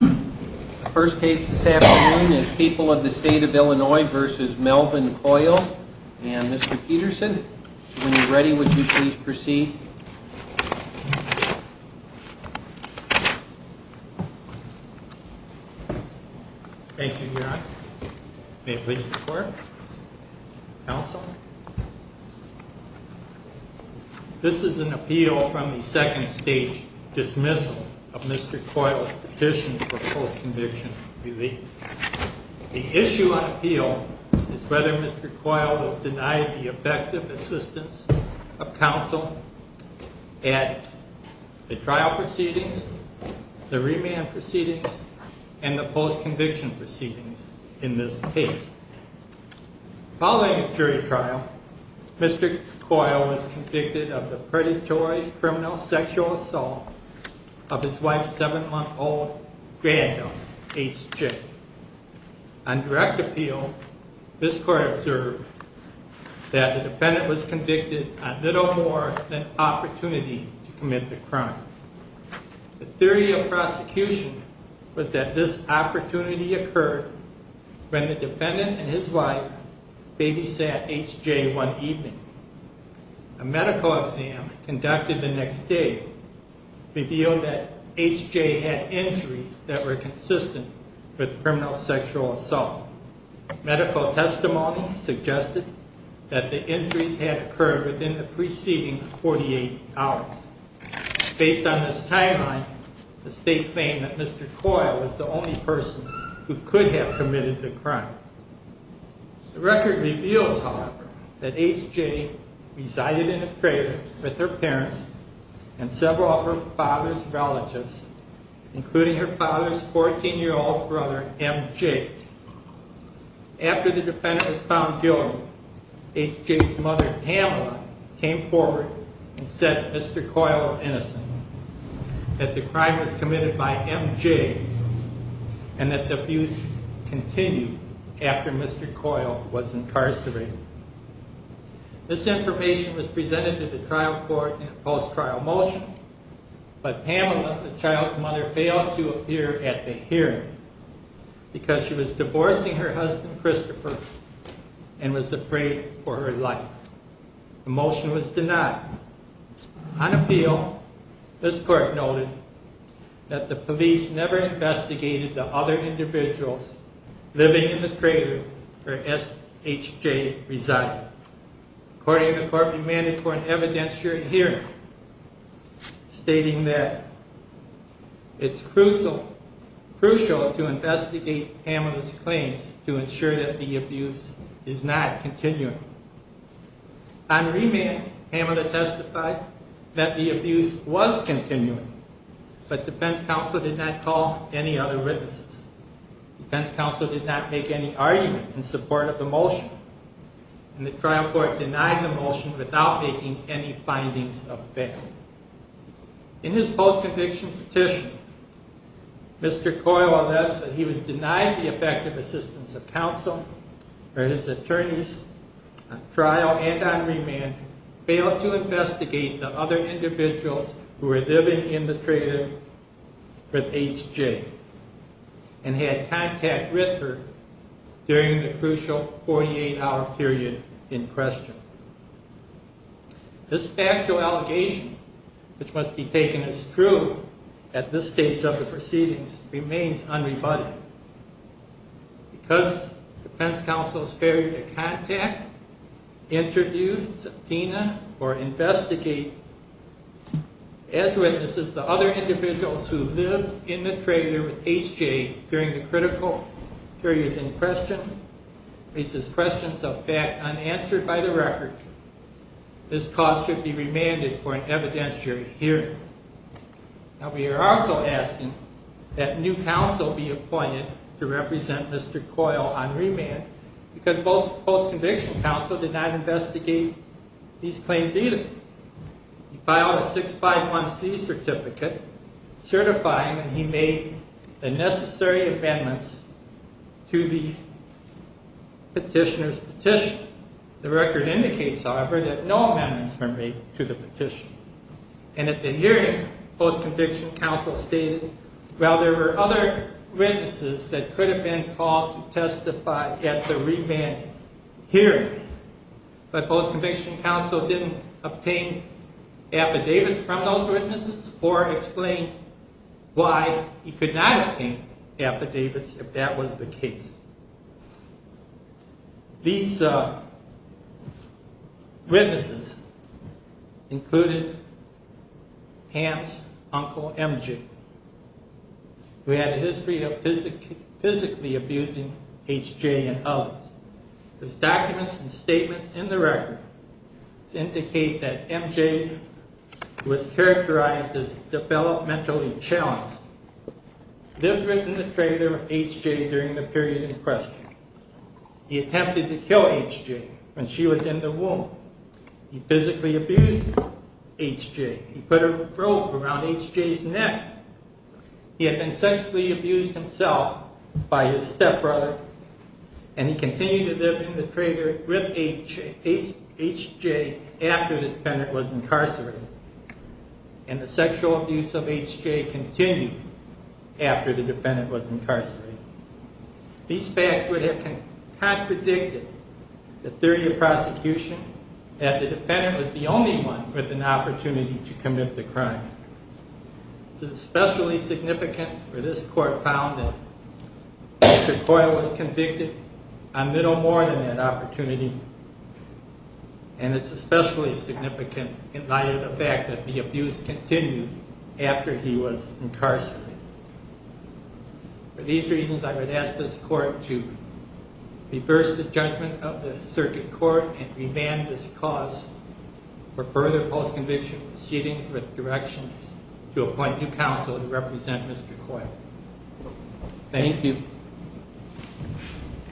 The first case this afternoon is People of the State of Illinois v. Melvin Coyle and Mr. Peterson. When you're ready, would you please proceed? Thank you, Your Honor. May it please the Court? Counsel? This is an appeal from the second stage dismissal of Mr. Coyle's petition for post-conviction relief. The issue on appeal is whether Mr. Coyle has denied the effective assistance of counsel at the trial proceedings, the remand proceedings, and the post-conviction proceedings in this case. Following the jury trial, Mr. Coyle was convicted of the predatory criminal sexual assault of his wife's 7-month-old granddaughter, H. J. On direct appeal, this Court observed that the defendant was convicted on little more than opportunity to commit the crime. The theory of prosecution was that this opportunity occurred when the defendant and his wife babysat H. J. one evening. A medical exam conducted the next day revealed that H. J. had injuries that were consistent with criminal sexual assault. Medical testimony suggested that the injuries had occurred within the preceding 48 hours. Based on this timeline, the State claimed that Mr. Coyle was the only person who could have committed the crime. The record reveals, however, that H. J. resided in a trailer with her parents and several of her father's relatives, including her father's 14-year-old brother, M. J. after Mr. Coyle was incarcerated. This information was presented to the trial court in a post-trial motion, but Pamela, the child's mother, failed to appear at the hearing because she was divorcing her husband, Christopher, and was afraid for her life. The motion was denied. On appeal, this court noted that the police never investigated the other individuals living in the trailer where H. J. resided. According to court, we demanded for an evidence during hearing, stating that it's crucial to investigate Pamela's claims to ensure that the abuse is not continuing. On remand, Pamela testified that the abuse was continuing, but defense counsel did not call any other witnesses. Defense counsel did not make any argument in support of the motion, and the trial court denied the motion without making any findings available. In his post-conviction petition, Mr. Coyle alleged that he was denied the effective assistance of counsel or his attorneys on trial and on remand, failed to investigate the other individuals who were living in the trailer with H. J., and had contact with her during the crucial 48-hour period in question. This factual allegation, which must be taken as true at this stage of the proceedings, remains unrebutted. Because defense counsel's failure to contact, interview, subpoena, or investigate as witnesses the other individuals who lived in the trailer with H. J. during the critical period in question raises questions of fact unanswered by the record. This cause should be remanded for an evidence during hearing. Now, we are also asking that new counsel be appointed to represent Mr. Coyle on remand, because post-conviction counsel did not investigate these claims either. He filed a 651C certificate certifying that he made the necessary amendments to the petitioner's petition. The record indicates, however, that no amendments were made to the petition. And at the hearing, post-conviction counsel stated, well, there were other witnesses that could have been called to testify at the remand hearing, but post-conviction counsel didn't obtain affidavits from those witnesses or explain why he could not obtain affidavits if that was the case. These witnesses included Hans' uncle M. J., who had a history of physically abusing H. J. and others. His documents and statements in the record indicate that M. J. was characterized as developmentally challenged. He had lived in the trailer with H. J. during the period in question. He attempted to kill H. J. when she was in the womb. He physically abused H. J. He put a rope around H. J.'s neck. He had been sexually abused himself by his stepbrother, and he continued to live in the trailer with H. J. after the defendant was incarcerated. And the sexual abuse of H. J. continued after the defendant was incarcerated. These facts would have contradicted the theory of prosecution that the defendant was the only one with an opportunity to commit the crime. It's especially significant for this court found that Mr. Coyle was convicted on little more than that opportunity. And it's especially significant in light of the fact that the abuse continued after he was incarcerated. For these reasons, I would ask this court to reverse the judgment of the circuit court and remand this cause for further post-conviction proceedings with directions to appoint new counsel to represent Mr. Coyle. Thank you.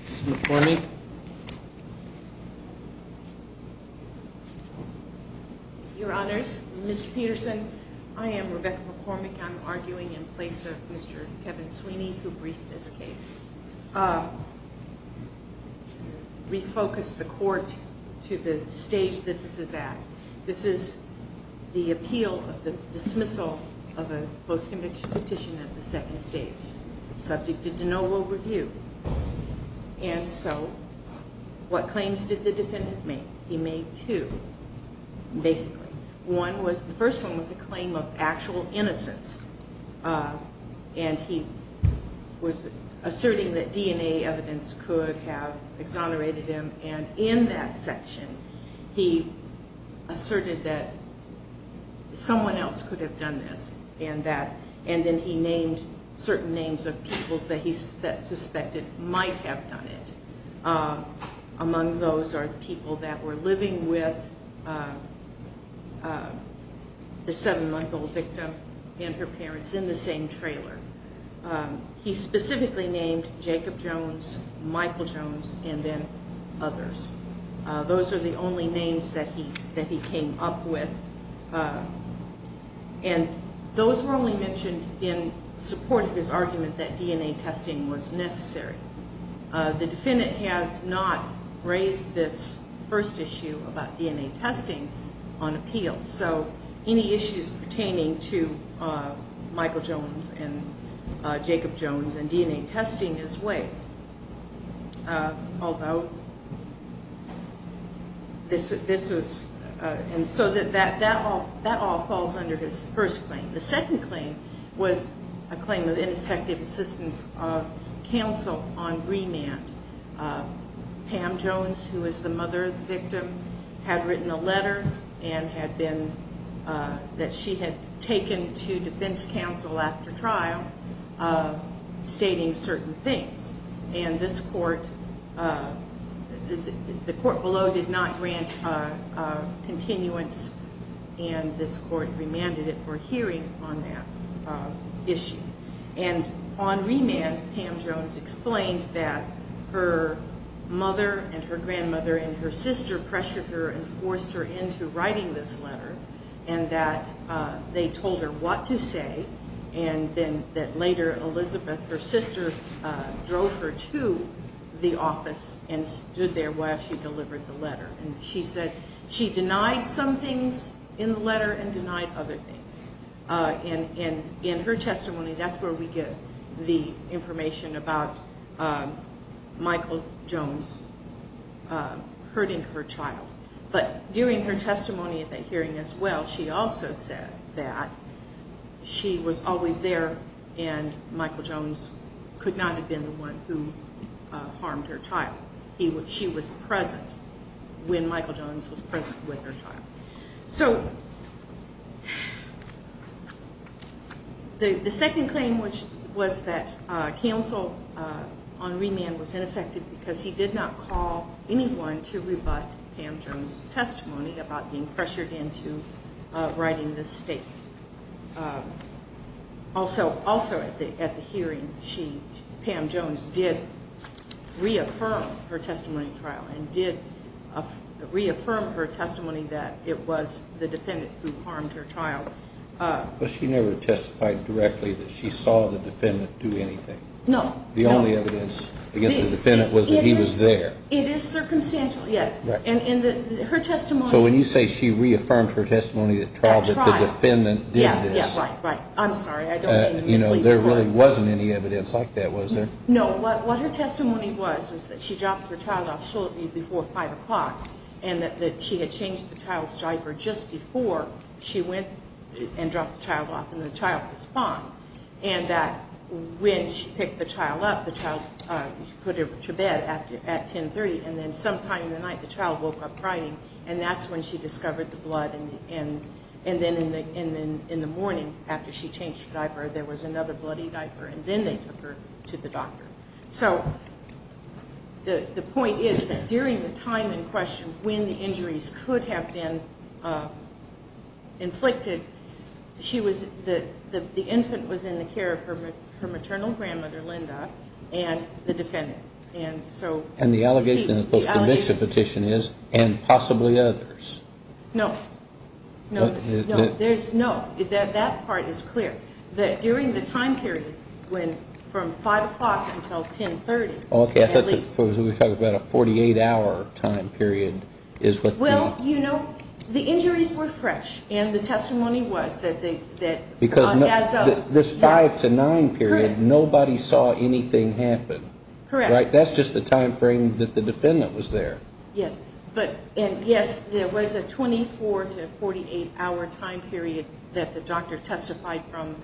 Ms. McCormick? Your Honors, Mr. Peterson, I am Rebecca McCormick. I'm arguing in place of Mr. Kevin Sweeney, who briefed this case. We focus the court to the stage that this is at. This is the appeal of the dismissal of a post-conviction petition at the second stage. It's subject to de novo review. And so what claims did the defendant make? He made two, basically. The first one was a claim of actual innocence. And he was asserting that DNA evidence could have exonerated him. And in that section, he asserted that someone else could have done this. And then he named certain names of people that he suspected might have done it. Among those are people that were living with the seven-month-old victim and her parents in the same trailer. He specifically named Jacob Jones, Michael Jones, and then others. Those are the only names that he came up with. And those were only mentioned in support of his argument that DNA testing was necessary. The defendant has not raised this first issue about DNA testing on appeal. So any issues pertaining to Michael Jones and Jacob Jones and DNA testing is weighed. Although this was—and so that all falls under his first claim. The second claim was a claim of ineffective assistance of counsel on remand. Pam Jones, who was the mother of the victim, had written a letter and had been— that she had taken to defense counsel after trial stating certain things. And this court—the court below did not grant continuance. And this court remanded it for hearing on that issue. And on remand, Pam Jones explained that her mother and her grandmother and her sister pressured her and forced her into writing this letter and that they told her what to say. And then that later Elizabeth, her sister, drove her to the office and stood there while she delivered the letter. And she said she denied some things in the letter and denied other things. And in her testimony, that's where we get the information about Michael Jones hurting her child. But during her testimony at that hearing as well, she also said that she was always there and Michael Jones could not have been the one who harmed her child. She was present when Michael Jones was present with her child. So the second claim, which was that counsel on remand was ineffective because he did not call anyone to rebut Pam Jones' testimony about being pressured into writing this statement. Also at the hearing, Pam Jones did reaffirm her testimony at trial and did reaffirm her testimony that it was the defendant who harmed her child. But she never testified directly that she saw the defendant do anything. No. The only evidence against the defendant was that he was there. It is circumstantial, yes. And in her testimony- So when you say she reaffirmed her testimony at trial- That the defendant did this- Yes, yes, right, right. I'm sorry. I don't mean to mislead the court. There really wasn't any evidence like that, was there? No. What her testimony was was that she dropped her child off shortly before 5 o'clock and that she had changed the child's diaper just before she went and dropped the child off and the child was found. And that when she picked the child up, the child was put to bed at 10.30 and then sometime in the night the child woke up crying and that's when she discovered the blood. And then in the morning after she changed the diaper there was another bloody diaper and then they took her to the doctor. So the point is that during the time in question when the injuries could have been inflicted, the infant was in the care of her maternal grandmother, Linda, and the defendant. And the allegation in the post-conviction petition is and possibly others. No. No. No. That part is clear. During the time period from 5 o'clock until 10.30- Okay, I thought we were talking about a 48-hour time period is what- Well, you know, the injuries were fresh and the testimony was that- Because this 5 to 9 period nobody saw anything happen. Correct. That's just the time frame that the defendant was there. Yes. And yes, there was a 24 to 48-hour time period that the doctor testified from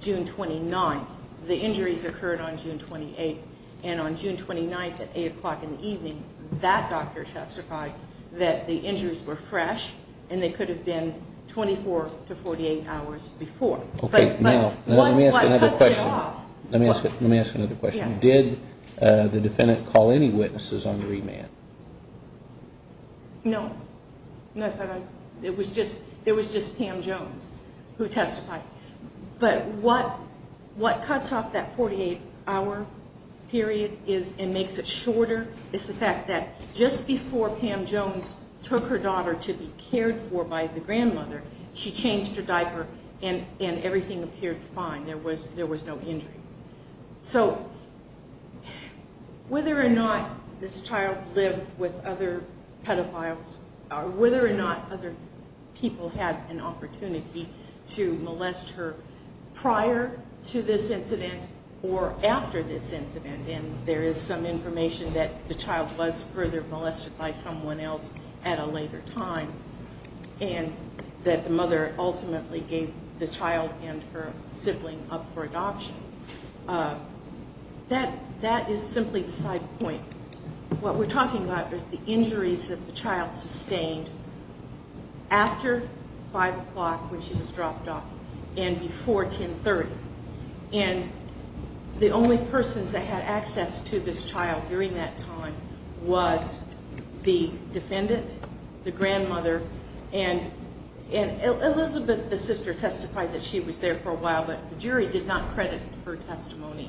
June 29. The injuries occurred on June 28. And on June 29 at 8 o'clock in the evening that doctor testified that the injuries were fresh and they could have been 24 to 48 hours before. Okay, now let me ask another question. Let me ask another question. Did the defendant call any witnesses on remand? No. It was just Pam Jones who testified. But what cuts off that 48-hour period and makes it shorter is the fact that just before Pam Jones took her daughter to be cared for by the grandmother, she changed her diaper and everything appeared fine. There was no injury. So whether or not this child lived with other pedophiles or whether or not other people had an opportunity to molest her prior to this incident or after this incident, and there is some information that the child was further molested by someone else at a later time and that the mother ultimately gave the child and her sibling up for adoption, that is simply the side point. What we're talking about is the injuries that the child sustained after 5 o'clock when she was dropped off and before 10.30. And the only persons that had access to this child during that time was the defendant, the grandmother, and Elizabeth, the sister, testified that she was there for a while, but the jury did not credit her testimony.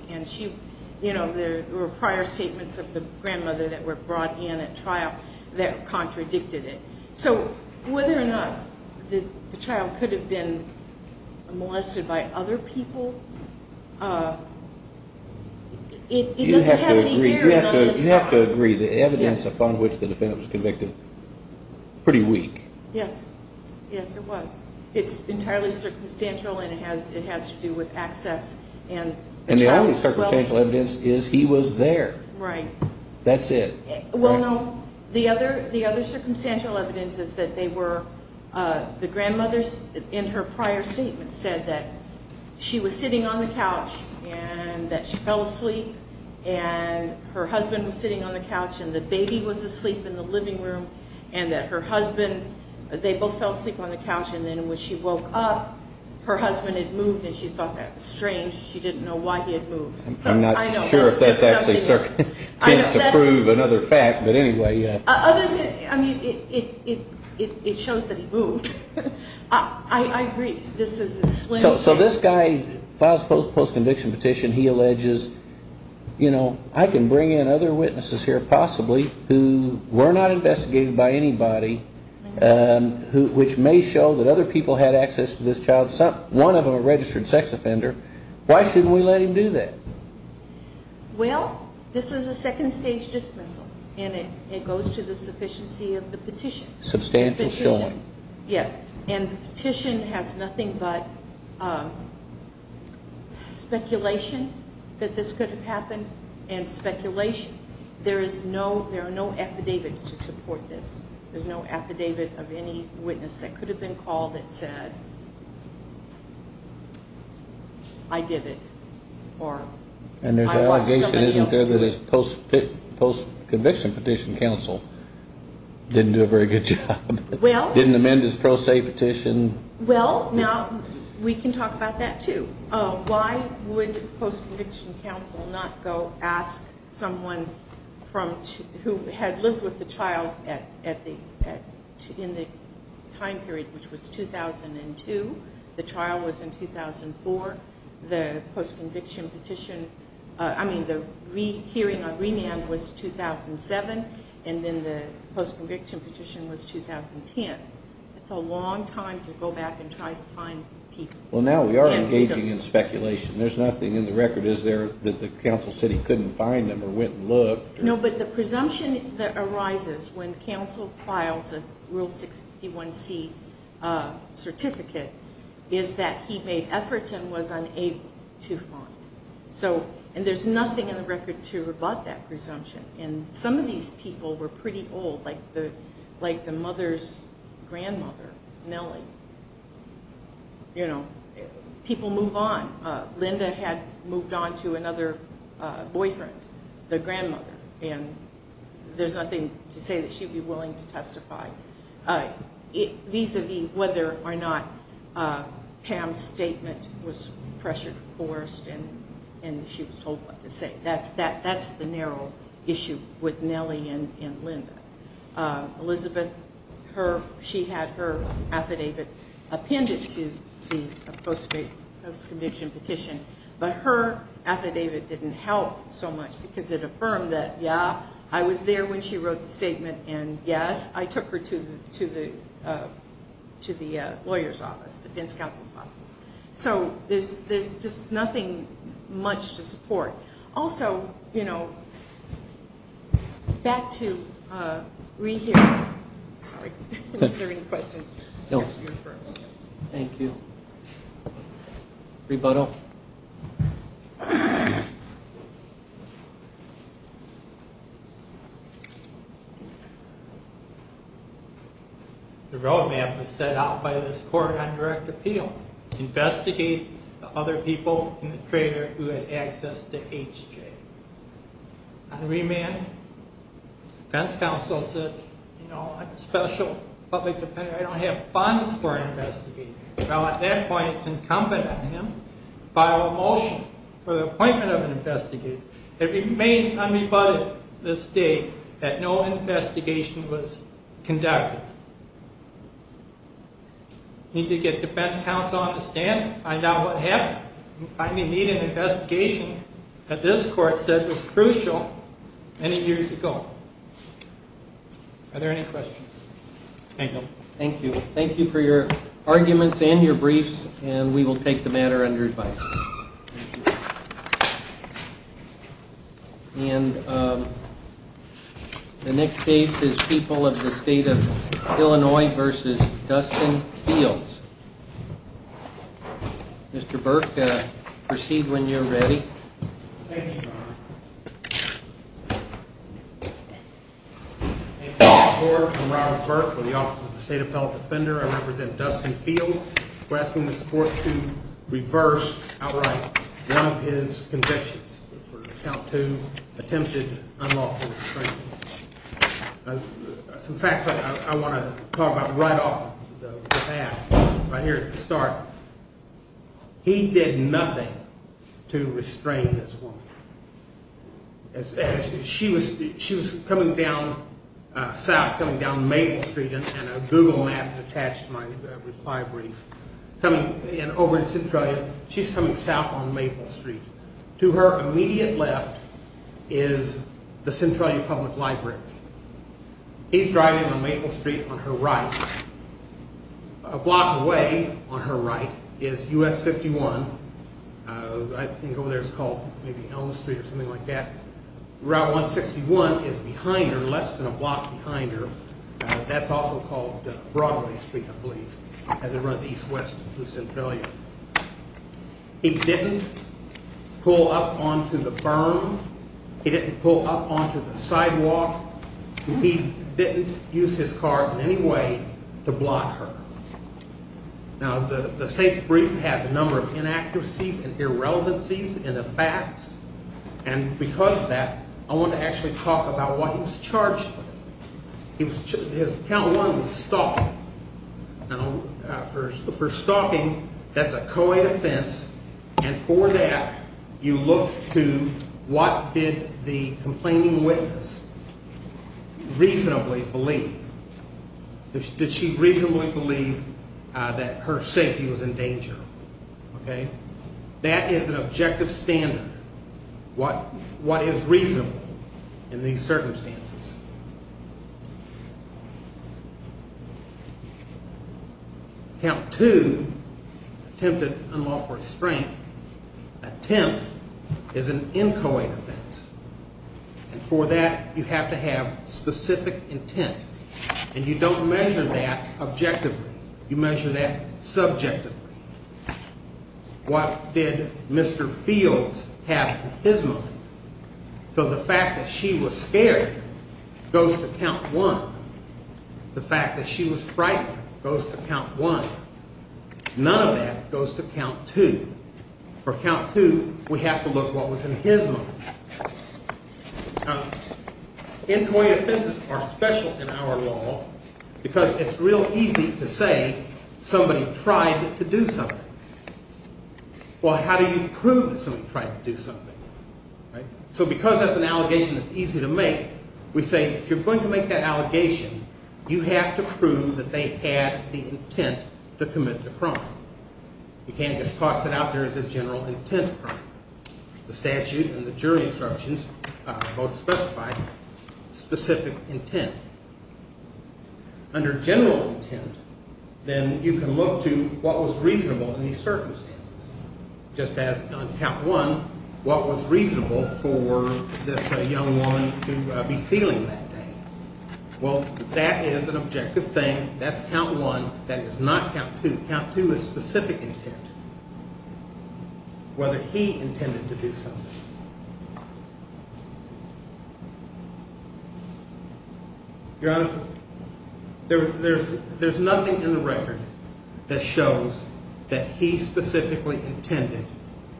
There were prior statements of the grandmother that were brought in at trial that contradicted it. So whether or not the child could have been molested by other people, it doesn't have any bearing on this trial. You have to agree, the evidence upon which the defendant was convicted is pretty weak. Yes, it was. It's entirely circumstantial and it has to do with access. And the only circumstantial evidence is he was there. Right. That's it. Well, no, the other circumstantial evidence is that they were, the grandmother in her prior statement said that she was sitting on the couch and that she fell asleep and her husband was sitting on the couch and the baby was asleep in the living room and that her husband, they both fell asleep on the couch and then when she woke up, her husband had moved and she thought that was strange. She didn't know why he had moved. I'm not sure if that's actually circumstantial. It tends to prove another fact, but anyway. Other than, I mean, it shows that he moved. I agree, this is a slim chance. So this guy files a post-conviction petition. He alleges, you know, I can bring in other witnesses here possibly who were not investigated by anybody, which may show that other people had access to this child, one of them a registered sex offender. Why shouldn't we let him do that? Well, this is a second stage dismissal and it goes to the sufficiency of the petition. Substantial showing. Yes, and the petition has nothing but speculation that this could have happened and speculation. There are no affidavits to support this. There's no affidavit of any witness that could have been called that said, I did it or I watched somebody else do it. And there's allegation, isn't there, that his post-conviction petition counsel didn't do a very good job, didn't amend his pro se petition? Well, now we can talk about that too. Why would post-conviction counsel not go ask someone who had lived with the child in the time period which was 2002, the trial was in 2004, the post-conviction petition, I mean the hearing on remand was 2007, and then the post-conviction petition was 2010? It's a long time to go back and try to find people. Well, now we are engaging in speculation. There's nothing in the record, is there, that the counsel said he couldn't find them or went and looked? No, but the presumption that arises when counsel files a Rule 61C certificate is that he made efforts and was unable to find. And there's nothing in the record to rebut that presumption. And some of these people were pretty old, like the mother's grandmother, Nellie. People move on. Linda had moved on to another boyfriend, the grandmother, and there's nothing to say that she'd be willing to testify. Vis-à-vis whether or not Pam's statement was pressured or forced and she was told what to say. That's the narrow issue with Nellie and Linda. Elizabeth, she had her affidavit appended to the post-conviction petition, but her affidavit didn't help so much because it affirmed that, yeah, I was there when she wrote the statement, and, yes, I took her to the lawyer's office, the defense counsel's office. So there's just nothing much to support. Also, you know, back to re-hearing. Sorry, was there any questions? No. Thank you. Rebuttal. The roadmap was set out by this court on direct appeal. Investigate the other people in the trailer who had access to HJ. On remand, defense counsel said, you know, I'm a special public defender. I don't have funds for an investigator. Well, at that point, it's incumbent on him to file a motion for the appointment of an investigator. It remains unrebutted to this day that no investigation was conducted. We need to get defense counsel on the stand, find out what happened. We need an investigation that this court said was crucial many years ago. Are there any questions? Thank you. Thank you. Thank you for your arguments and your briefs, and we will take the matter under advice. Thank you. And the next case is People of the State of Illinois v. Dustin Fields. Mr. Burke, proceed when you're ready. Thank you, Your Honor. Thank you, Mr. Court. I'm Robert Burke with the Office of the State Appellate Defender. I represent Dustin Fields. We're asking the court to reverse outright one of his convictions for count two attempted unlawful restraining. Some facts I want to talk about right off the bat, right here at the start. He did nothing to restrain this woman. She was coming down south, coming down Maple Street. And a Google map is attached to my reply brief. And over in Centralia, she's coming south on Maple Street. To her immediate left is the Centralia Public Library. He's driving on Maple Street on her right. A block away on her right is US 51. I think over there it's called maybe Elm Street or something like that. Route 161 is behind her, less than a block behind her. That's also called Broadway Street, I believe, as it runs east-west through Centralia. He didn't pull up onto the berm. He didn't pull up onto the sidewalk. He didn't use his car in any way to block her. Now, the state's brief has a number of inaccuracies and irrelevancies in the facts. And because of that, I want to actually talk about what he was charged with. Count one was stalking. Now, for stalking, that's a co-ed offense. And for that, you look to what did the complaining witness reasonably believe. Did she reasonably believe that her safety was in danger? That is an objective standard, what is reasonable in these circumstances. Count two, attempted unlawful restraint. Attempt is an in-co-ed offense. And for that, you have to have specific intent. And you don't measure that objectively. You measure that subjectively. What did Mr. Fields have in his mind? So the fact that she was scared goes to count one. The fact that she was frightened goes to count one. None of that goes to count two. For count two, we have to look what was in his mind. Now, in-co-ed offenses are special in our law because it's real easy to say somebody tried to do something. Well, how do you prove that somebody tried to do something? So because that's an allegation that's easy to make, we say if you're going to make that allegation, you have to prove that they had the intent to commit the crime. You can't just toss it out there as a general intent crime. The statute and the jury instructions both specify specific intent. Under general intent, then you can look to what was reasonable in these circumstances. Just as on count one, what was reasonable for this young woman to be feeling that day? Well, that is an objective thing. That's count one. That is not count two. Count two is specific intent, whether he intended to do something. Your Honor, there's nothing in the record that shows that he specifically intended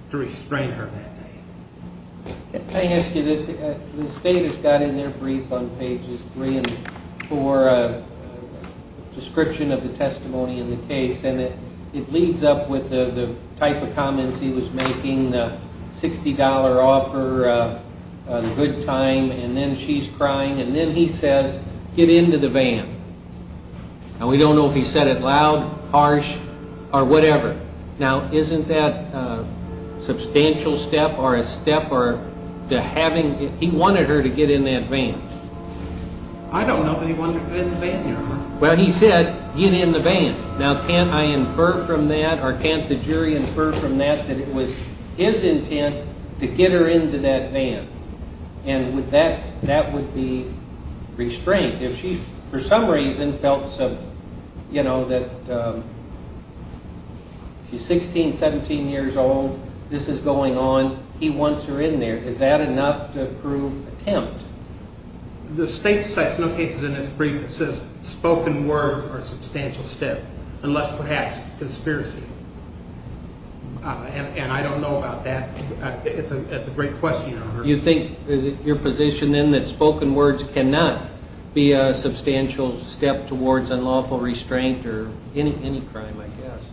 to restrain her that day. Can I ask you this? The state has got in their brief on pages three and four a description of the testimony in the case, and it leads up with the type of comments he was making, the $60 offer, the good time, and then she's crying. And then he says, get into the van. Now, we don't know if he said it loud, harsh, or whatever. Now, isn't that a substantial step or a step to having he wanted her to get in that van? I don't know that he wanted her to get in the van, Your Honor. Well, he said, get in the van. Now, can't I infer from that or can't the jury infer from that that it was his intent to get her into that van? And that would be restraint. If she, for some reason, felt that she's 16, 17 years old, this is going on, he wants her in there, is that enough to prove attempt? The state cites no cases in its brief that says spoken words are a substantial step, unless perhaps conspiracy. And I don't know about that. It's a great question, Your Honor. You think, is it your position, then, that spoken words cannot be a substantial step towards unlawful restraint or any crime, I guess?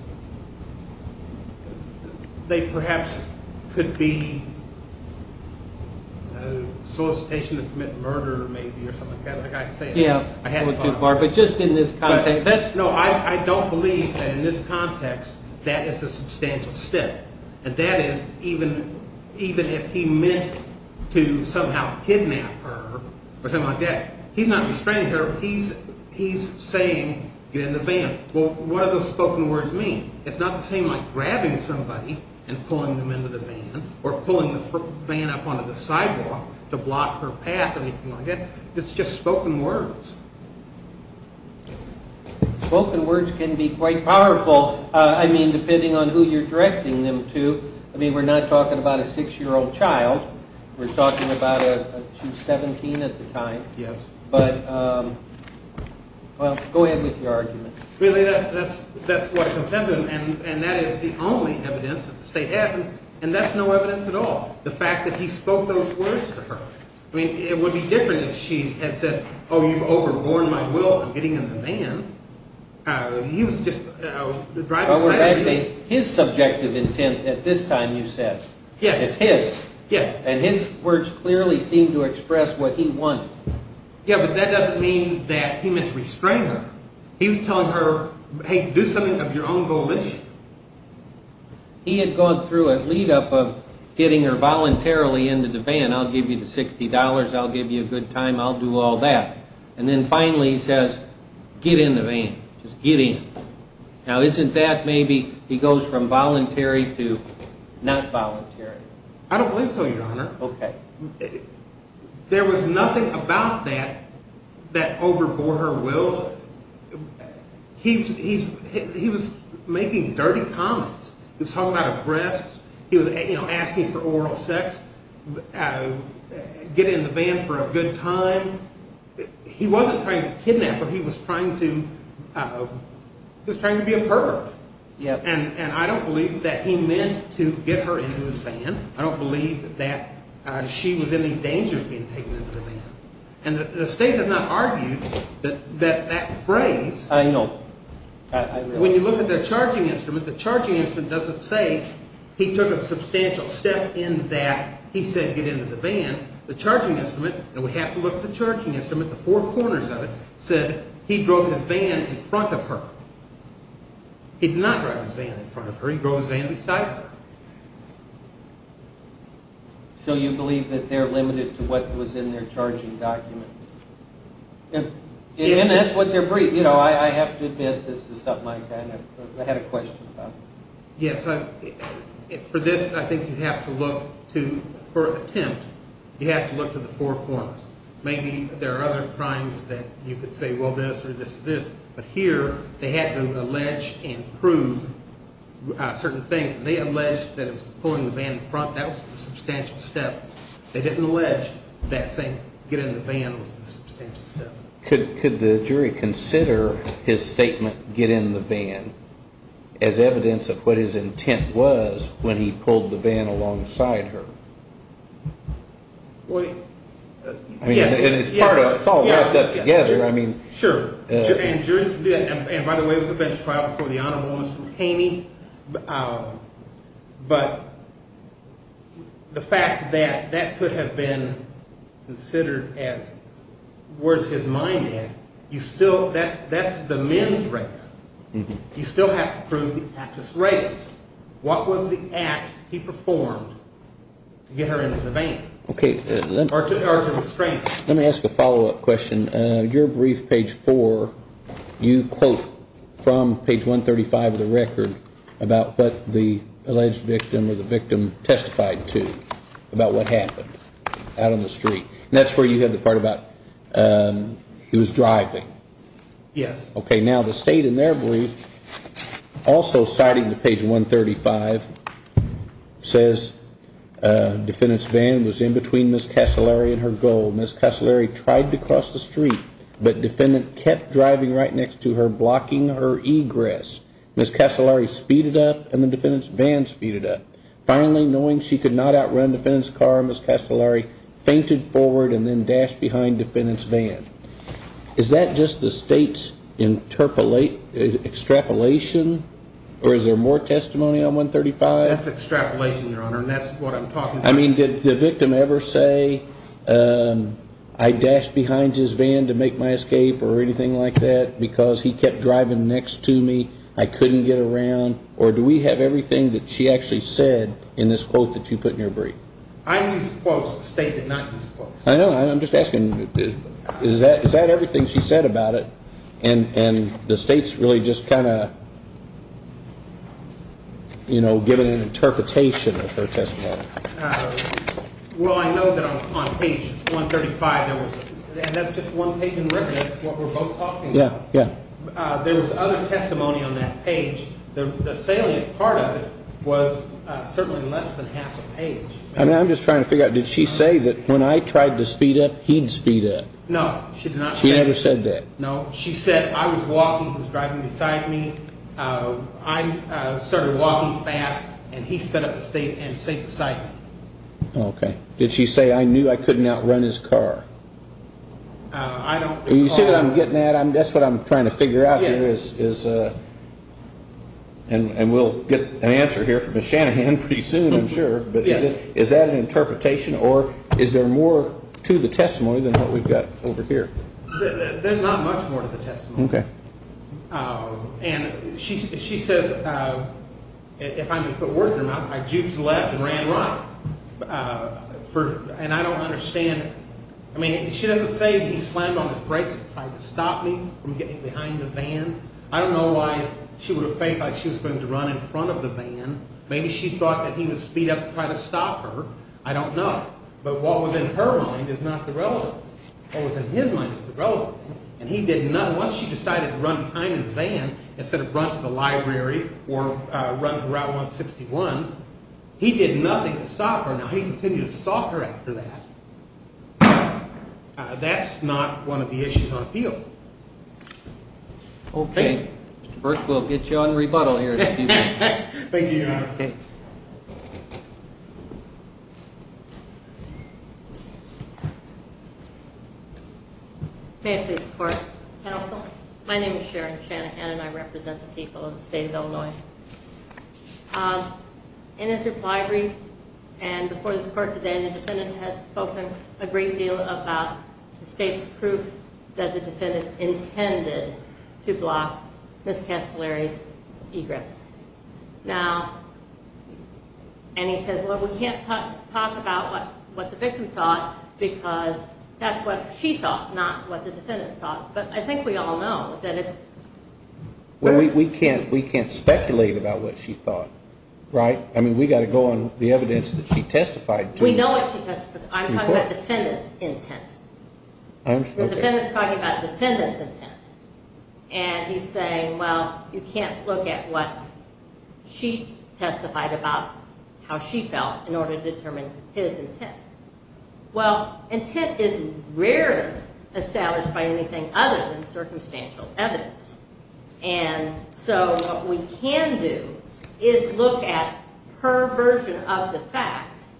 They perhaps could be solicitation to commit murder, maybe, or something like that. Like I said, I haven't thought about that. Yeah, that went too far. But just in this context. No, I don't believe that in this context that is a substantial step. And that is even if he meant to somehow kidnap her or something like that, he's not restraining her. He's saying, get in the van. Well, what do those spoken words mean? It's not the same like grabbing somebody and pulling them into the van or pulling the van up onto the sidewalk to block her path or anything like that. It's just spoken words. Spoken words can be quite powerful. I mean, depending on who you're directing them to. I mean, we're not talking about a 6-year-old child. We're talking about a 17 at the time. Yes. But go ahead with your argument. Really, that's what contended, and that is the only evidence that the state has. And that's no evidence at all, the fact that he spoke those words to her. I mean, it would be different if she had said, oh, you've overborne my will in getting in the van. He was just driving aside her needs. His subjective intent at this time, you said. Yes. It's his. Yes. And his words clearly seemed to express what he wanted. Yeah, but that doesn't mean that he meant to restrain her. He was telling her, hey, do something of your own volition. He had gone through a lead-up of getting her voluntarily into the van. I'll give you the $60. I'll give you a good time. I'll do all that. And then finally he says, get in the van. Just get in. Now, isn't that maybe he goes from voluntary to not voluntary? I don't believe so, Your Honor. Okay. There was nothing about that that overbore her will. He was making dirty comments. He was talking about her breasts. He was asking for oral sex. Get in the van for a good time. He wasn't trying to kidnap her. He was trying to be a pervert. And I don't believe that he meant to get her into the van. I don't believe that she was in any danger of being taken into the van. And the State has not argued that that phrase. I know. When you look at the charging instrument, the charging instrument doesn't say he took a substantial step in that. He said get into the van. The charging instrument, and we have to look at the charging instrument, the four corners of it, said he drove his van in front of her. He did not drive his van in front of her. He drove his van beside her. So you believe that they're limited to what was in their charging document? And that's what they're briefed. You know, I have to admit this is something I kind of had a question about. Yes. For this, I think you have to look to, for attempt, you have to look to the four corners. Maybe there are other crimes that you could say, well, this or this or this. But here, they had to allege and prove certain things. They allege that he was pulling the van in front. That was a substantial step. They didn't allege that saying get in the van was a substantial step. Could the jury consider his statement, get in the van, as evidence of what his intent was when he pulled the van alongside her? Well, yes. I mean, it's all wrapped up together. Sure. And by the way, it was a bench trial before the Honorable Mr. McCain. But the fact that that could have been considered as where's his mind at, you still, that's the men's race. You still have to prove the actress' race. What was the act he performed to get her into the van? Okay. Or to restraint. Let me ask a follow-up question. Your brief, page four, you quote from page 135 of the record about what the alleged victim or the victim testified to about what happened out on the street. And that's where you had the part about he was driving. Yes. Okay. Now, the state in their brief, also citing page 135, says defendant's van was in between Ms. Castellari and her goal. Ms. Castellari tried to cross the street, but defendant kept driving right next to her, blocking her egress. Ms. Castellari speeded up, and the defendant's van speeded up. Finally, knowing she could not outrun defendant's car, Ms. Castellari fainted forward and then dashed behind defendant's van. Is that just the state's extrapolation, or is there more testimony on 135? That's extrapolation, Your Honor, and that's what I'm talking about. I mean, did the victim ever say, I dashed behind his van to make my escape or anything like that because he kept driving next to me, I couldn't get around? Or do we have everything that she actually said in this quote that you put in your brief? I used quotes. The state did not use quotes. I know. I'm just asking, is that everything she said about it? And the state's really just kind of, you know, giving an interpretation of her testimony. Well, I know that on page 135 there was, and that's just one taken record of what we're both talking about. Yeah, yeah. There was other testimony on that page. The salient part of it was certainly less than half a page. I'm just trying to figure out, did she say that when I tried to speed up, he'd speed up? No, she did not say that. She never said that? No, she said I was walking, he was driving beside me, I started walking fast, and he sped up and stayed beside me. Okay. Did she say, I knew I couldn't outrun his car? I don't recall. You see what I'm getting at? That's what I'm trying to figure out here is, and we'll get an answer here from Ms. Shanahan pretty soon, I'm sure. But is that an interpretation, or is there more to the testimony than what we've got over here? There's not much more to the testimony. Okay. And she says, if I'm to put words in her mouth, I juked left and ran right, and I don't understand it. I mean, she doesn't say he slammed on his brakes and tried to stop me from getting behind the van. I don't know why she would have faked like she was going to run in front of the van. Maybe she thought that he would speed up and try to stop her. I don't know. But what was in her mind is not the relevant. What was in his mind is the relevant. And he did nothing. Once she decided to run behind his van instead of run to the library or run Route 161, he did nothing to stop her. Now, he continued to stalk her after that. That's not one of the issues on appeal. Okay. First, we'll get you on rebuttal here in a few minutes. Thank you, Your Honor. Okay. May I please report? Counsel. My name is Sharon Shanahan, and I represent the people of the state of Illinois. In his reply brief and before this court today, the defendant has spoken a great deal about the state's proof that the defendant intended to block Ms. Castellari's egress. Now, and he says, well, we can't talk about what the victim thought because that's what she thought, not what the defendant thought. But I think we all know that it's… Well, we can't speculate about what she thought, right? I mean, we've got to go on the evidence that she testified to. We know what she testified to. I'm talking about the defendant's intent. The defendant's talking about the defendant's intent. And he's saying, well, you can't look at what she testified about, how she felt, in order to determine his intent. Well, intent is rarely established by anything other than circumstantial evidence. And so what we can do is look at her version of the facts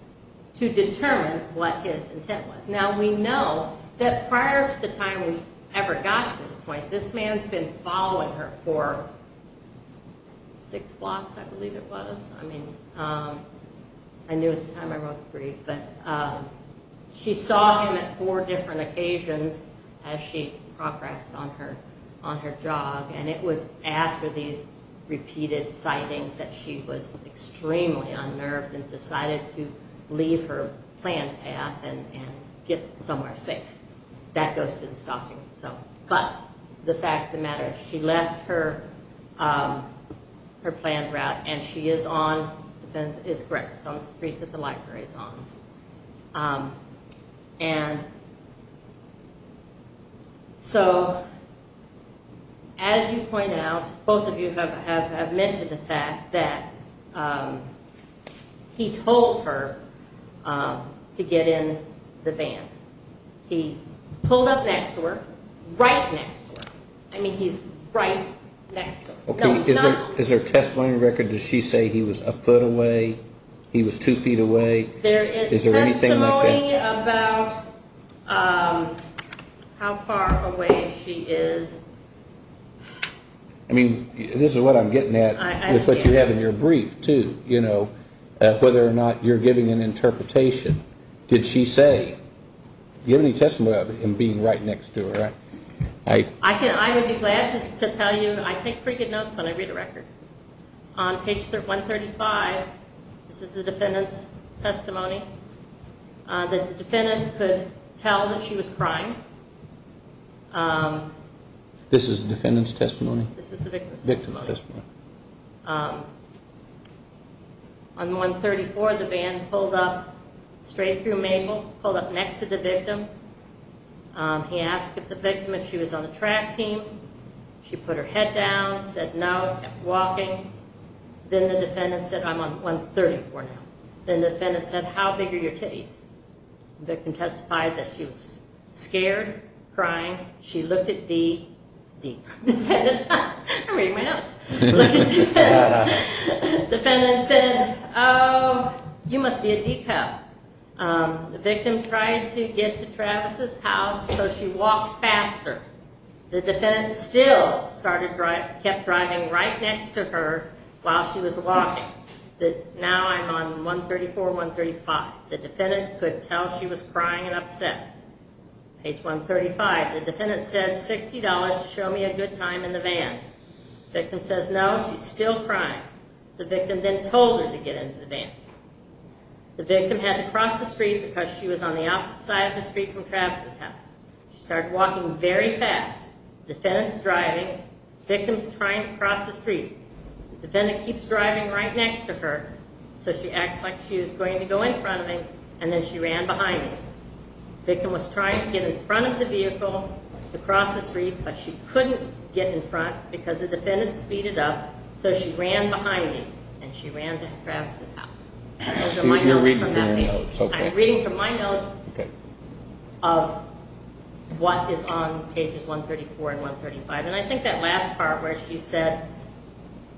to determine what his intent was. Now, we know that prior to the time we ever got to this point, this man's been following her for six blocks, I believe it was. I mean, I knew at the time I wrote the brief. But she saw him at four different occasions as she progressed on her job. And it was after these repeated sightings that she was extremely unnerved and decided to leave her planned path and get somewhere safe. That goes to the stopping. But the fact of the matter is she left her planned route, and she is on… The defendant is correct. It's on the street that the library is on. And so as you point out, both of you have mentioned the fact that he told her to get in the van. He pulled up next to her, right next to her. I mean, he's right next to her. Is there a testimony record? Does she say he was a foot away, he was two feet away? Is there anything like that? There is testimony about how far away she is. I mean, this is what I'm getting at with what you have in your brief, too, you know, whether or not you're giving an interpretation. Did she say? Do you have any testimony about him being right next to her? I would be glad to tell you I take pretty good notes when I read a record. On page 135, this is the defendant's testimony. The defendant could tell that she was crying. This is the defendant's testimony? This is the victim's testimony. On 134, the van pulled up straight through Mabel, pulled up next to the victim. He asked the victim if she was on the track team. She put her head down, said no, kept walking. Then the defendant said, I'm on 134 now. Then the defendant said, how big are your titties? The victim testified that she was scared, crying. She looked at the defendant. I'm reading my notes. Looked at the defendant. The defendant said, oh, you must be a decoy. The victim tried to get to Travis' house, so she walked faster. The defendant still kept driving right next to her while she was walking. Now I'm on 134, 135. The defendant could tell she was crying and upset. Page 135, the defendant said $60 to show me a good time in the van. The victim says no. She's still crying. The victim then told her to get into the van. The victim had to cross the street because she was on the outside of the street from Travis' house. She started walking very fast. The defendant's driving. The victim's trying to cross the street. The defendant keeps driving right next to her, so she acts like she was going to go in front of him, and then she ran behind him. The victim was trying to get in front of the vehicle to cross the street, but she couldn't get in front because the defendant speeded up, so she ran behind him, and she ran to Travis' house. You're reading from your notes, okay. I'm reading from my notes of what is on pages 134 and 135, and I think that last part where she said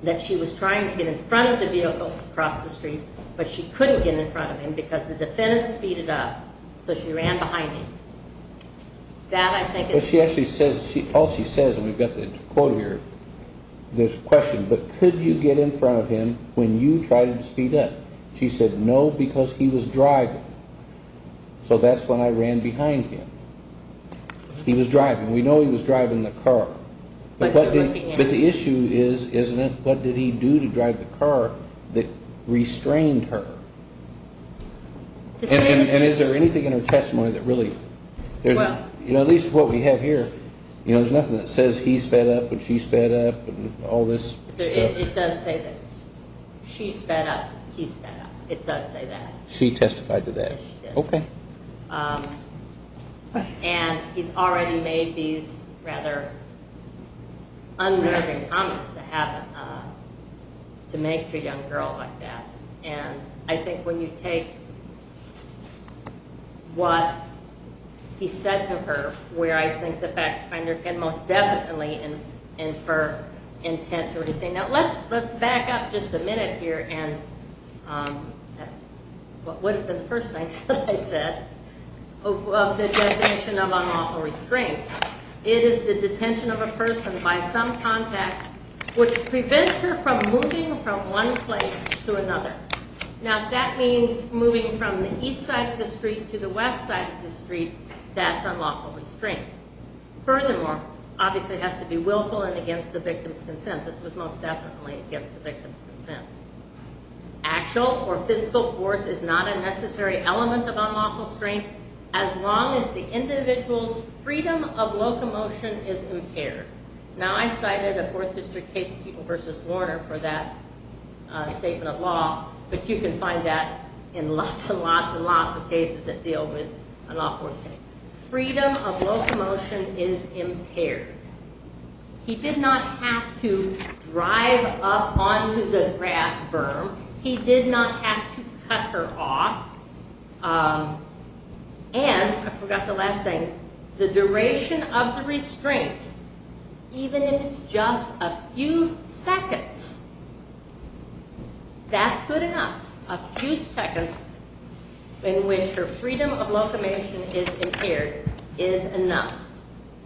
that she was trying to get in front of the vehicle to cross the street, but she couldn't get in front of him because the defendant speeded up, so she ran behind him. That I think is... What she actually says, all she says, and we've got the quote here, there's a question, but could you get in front of him when you tried to speed up? She said no because he was driving, so that's when I ran behind him. He was driving. We know he was driving the car. But the issue is, isn't it, what did he do to drive the car that restrained her? And is there anything in her testimony that really... At least what we have here, there's nothing that says he sped up and she sped up and all this stuff. It does say that she sped up, he sped up. It does say that. She testified to that. Yes, she did. Okay. And he's already made these rather unnerving comments to make to a young girl like that, and I think when you take what he said to her, where I think the fact finder can most definitely infer intent to what he's saying. Now, let's back up just a minute here and what would have been the first thing I said of the definition of unlawful restraint. It is the detention of a person by some contact which prevents her from moving from one place to another. Now, if that means moving from the east side of the street to the west side of the street, that's unlawful restraint. Furthermore, obviously it has to be willful and against the victim's consent. This was most definitely against the victim's consent. Actual or physical force is not a necessary element of unlawful restraint as long as the individual's freedom of locomotion is impaired. Now, I cited a Fourth District case of People v. Warner for that statement of law, but you can find that in lots and lots and lots of cases that deal with unlawful restraint. Freedom of locomotion is impaired. He did not have to drive up onto the grass berm. He did not have to cut her off. And I forgot the last thing, the duration of the restraint, even if it's just a few seconds, that's good enough. A few seconds in which her freedom of locomotion is impaired is enough.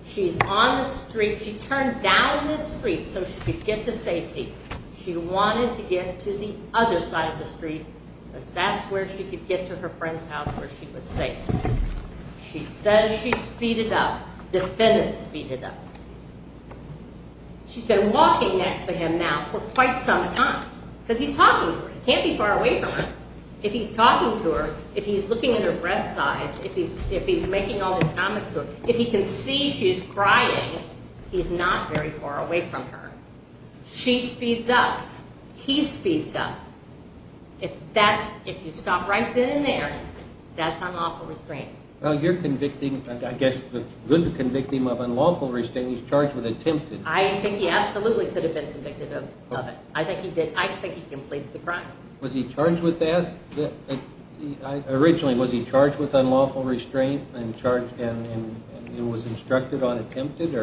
She's on the street. She turned down this street so she could get to safety. She wanted to get to the other side of the street because that's where she could get to her friend's house where she was safe. She says she speeded up. The defendant speeded up. She's been walking next to him now for quite some time because he's talking to her. He can't be far away from her. If he's talking to her, if he's looking at her breast size, if he's making all this comments to her, if he can see she's crying, he's not very far away from her. She speeds up. He speeds up. If you stop right then and there, that's unlawful restraint. Well, you're convicting, I guess, good to convict him of unlawful restraint. He's charged with attempted. I think he absolutely could have been convicted of it. I think he did. I think he completed the crime. Was he charged with that? Originally, was he charged with unlawful restraint and was instructed on attempted?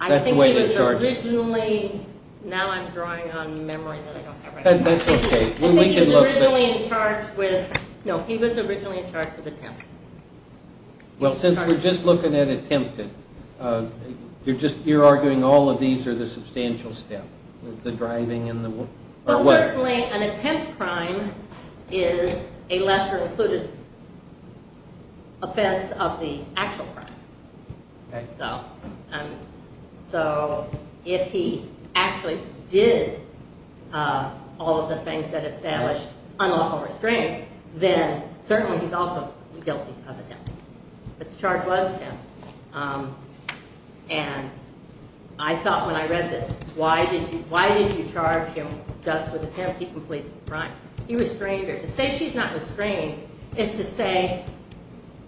I think he was originally, now I'm drawing on memory. That's okay. I think he was originally in charge with, no, he was originally in charge with attempted. Well, since we're just looking at attempted, you're arguing all of these are the substantial step, the driving and the what? Well, certainly an attempt crime is a lesser included offense of the actual crime. So if he actually did all of the things that establish unlawful restraint, then certainly he's also guilty of attempted. But the charge was attempted. And I thought when I read this, why did you charge him just with attempted? He completed the crime. He restrained her. To say she's not restrained is to say,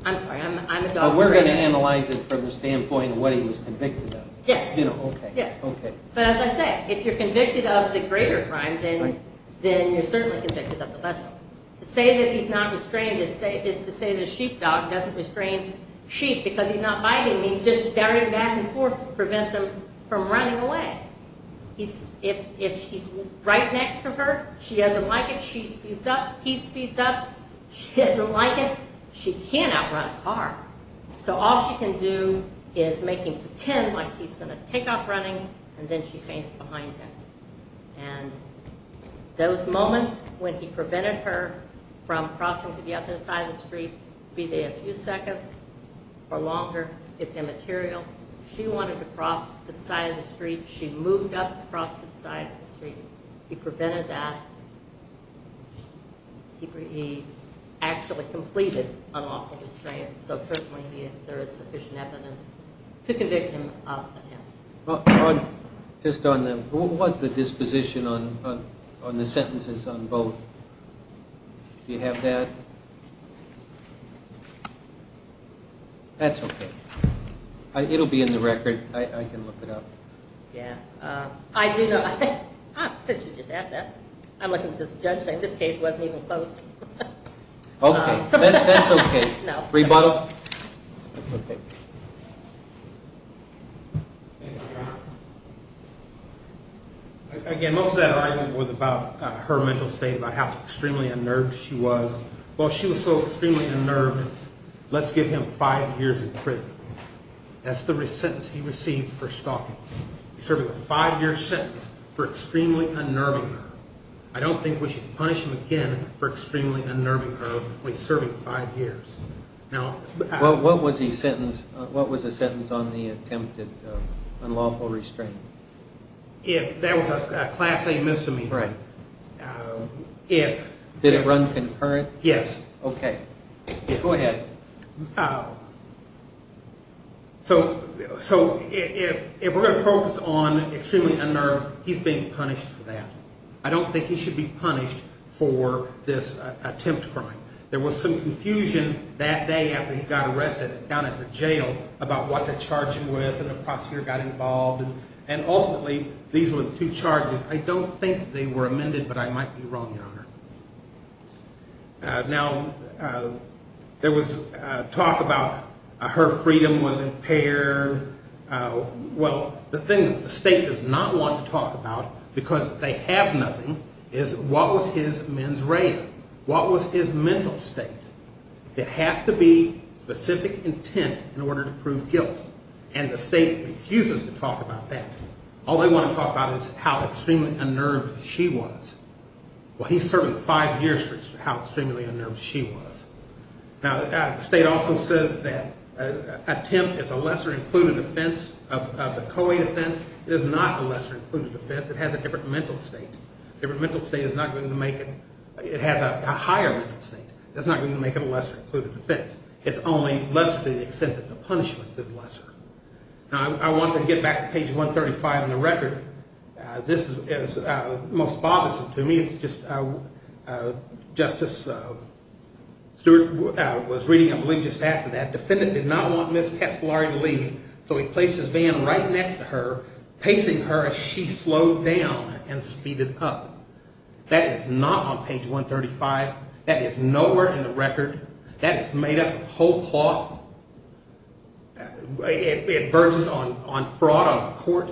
I'm sorry, I'm a doctor. We're going to analyze it from the standpoint of what he was convicted of. Yes. Okay. But as I say, if you're convicted of the greater crime, then you're certainly convicted of the lesser. To say that he's not restrained is to say that a sheepdog doesn't restrain sheep because he's not biting. He's just carrying back and forth to prevent them from running away. If he's right next to her, she doesn't like it, she speeds up, he speeds up, she doesn't like it, she can't outrun a car. So all she can do is make him pretend like he's going to take off running, and then she faints behind him. And those moments when he prevented her from crossing to the other side of the street, be they a few seconds or longer, it's immaterial. She wanted to cross to the side of the street. She moved up across to the side of the street. He prevented that. He actually completed unlawful restraint, so certainly there is sufficient evidence to convict him of attempt. What was the disposition on the sentences on both? Do you have that? That's okay. It'll be in the record. I can look it up. I do know, since you just asked that, I'm looking at this judge saying this case wasn't even close. Okay, that's okay. Rebuttal? Again, most of that argument was about her mental state, about how extremely unnerved she was. Well, she was so extremely unnerved, let's give him five years in prison. That's the sentence he received for stalking. He's serving a five-year sentence for extremely unnerving her. I don't think we should punish him again for extremely unnerving her when he's serving five years. What was the sentence on the attempt at unlawful restraint? That was a Class A misdemeanor. Right. Did it run concurrent? Yes. Okay. Go ahead. So if we're going to focus on extremely unnerved, he's being punished for that. I don't think he should be punished for this attempt crime. There was some confusion that day after he got arrested down at the jail about what to charge him with, and the prosecutor got involved, and ultimately these were the two charges. I don't think they were amended, but I might be wrong, Your Honor. Now, there was talk about her freedom was impaired. Well, the thing that the state does not want to talk about because they have nothing is what was his mens rea? What was his mental state? It has to be specific intent in order to prove guilt, and the state refuses to talk about that. All they want to talk about is how extremely unnerved she was. Well, he served five years for how extremely unnerved she was. Now, the state also says that an attempt is a lesser-included offense of the co-aid offense. It is not a lesser-included offense. It has a different mental state. A different mental state is not going to make it. It has a higher mental state. That's not going to make it a lesser-included offense. It's only lesser to the extent that the punishment is lesser. Now, I want to get back to page 135 in the record. This is most bothersome to me. It's just Justice Stewart was reading, I believe, just after that. Defendant did not want Ms. Castellari to leave, so he placed his van right next to her, pacing her as she slowed down and speeded up. That is not on page 135. That is nowhere in the record. That is made up of whole cloth. It verges on fraud on a court.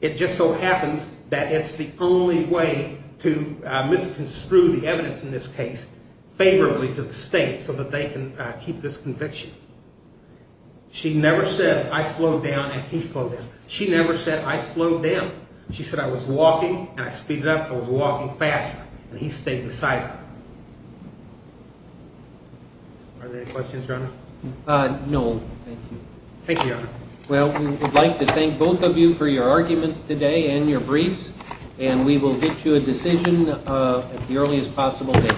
It just so happens that it's the only way to misconstrue the evidence in this case favorably to the state so that they can keep this conviction. She never says, I slowed down and he slowed down. She never said, I slowed down. She said, I was walking, and I speeded up. I was walking faster, and he stayed beside her. Are there any questions, Your Honor? No, thank you. Thank you, Your Honor. Well, we would like to thank both of you for your arguments today and your briefs, and we will get to a decision at the earliest possible date.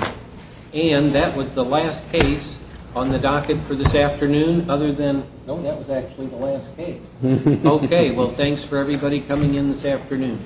And that was the last case on the docket for this afternoon other than no, that was actually the last case. Okay, well, thanks for everybody coming in this afternoon. All rise.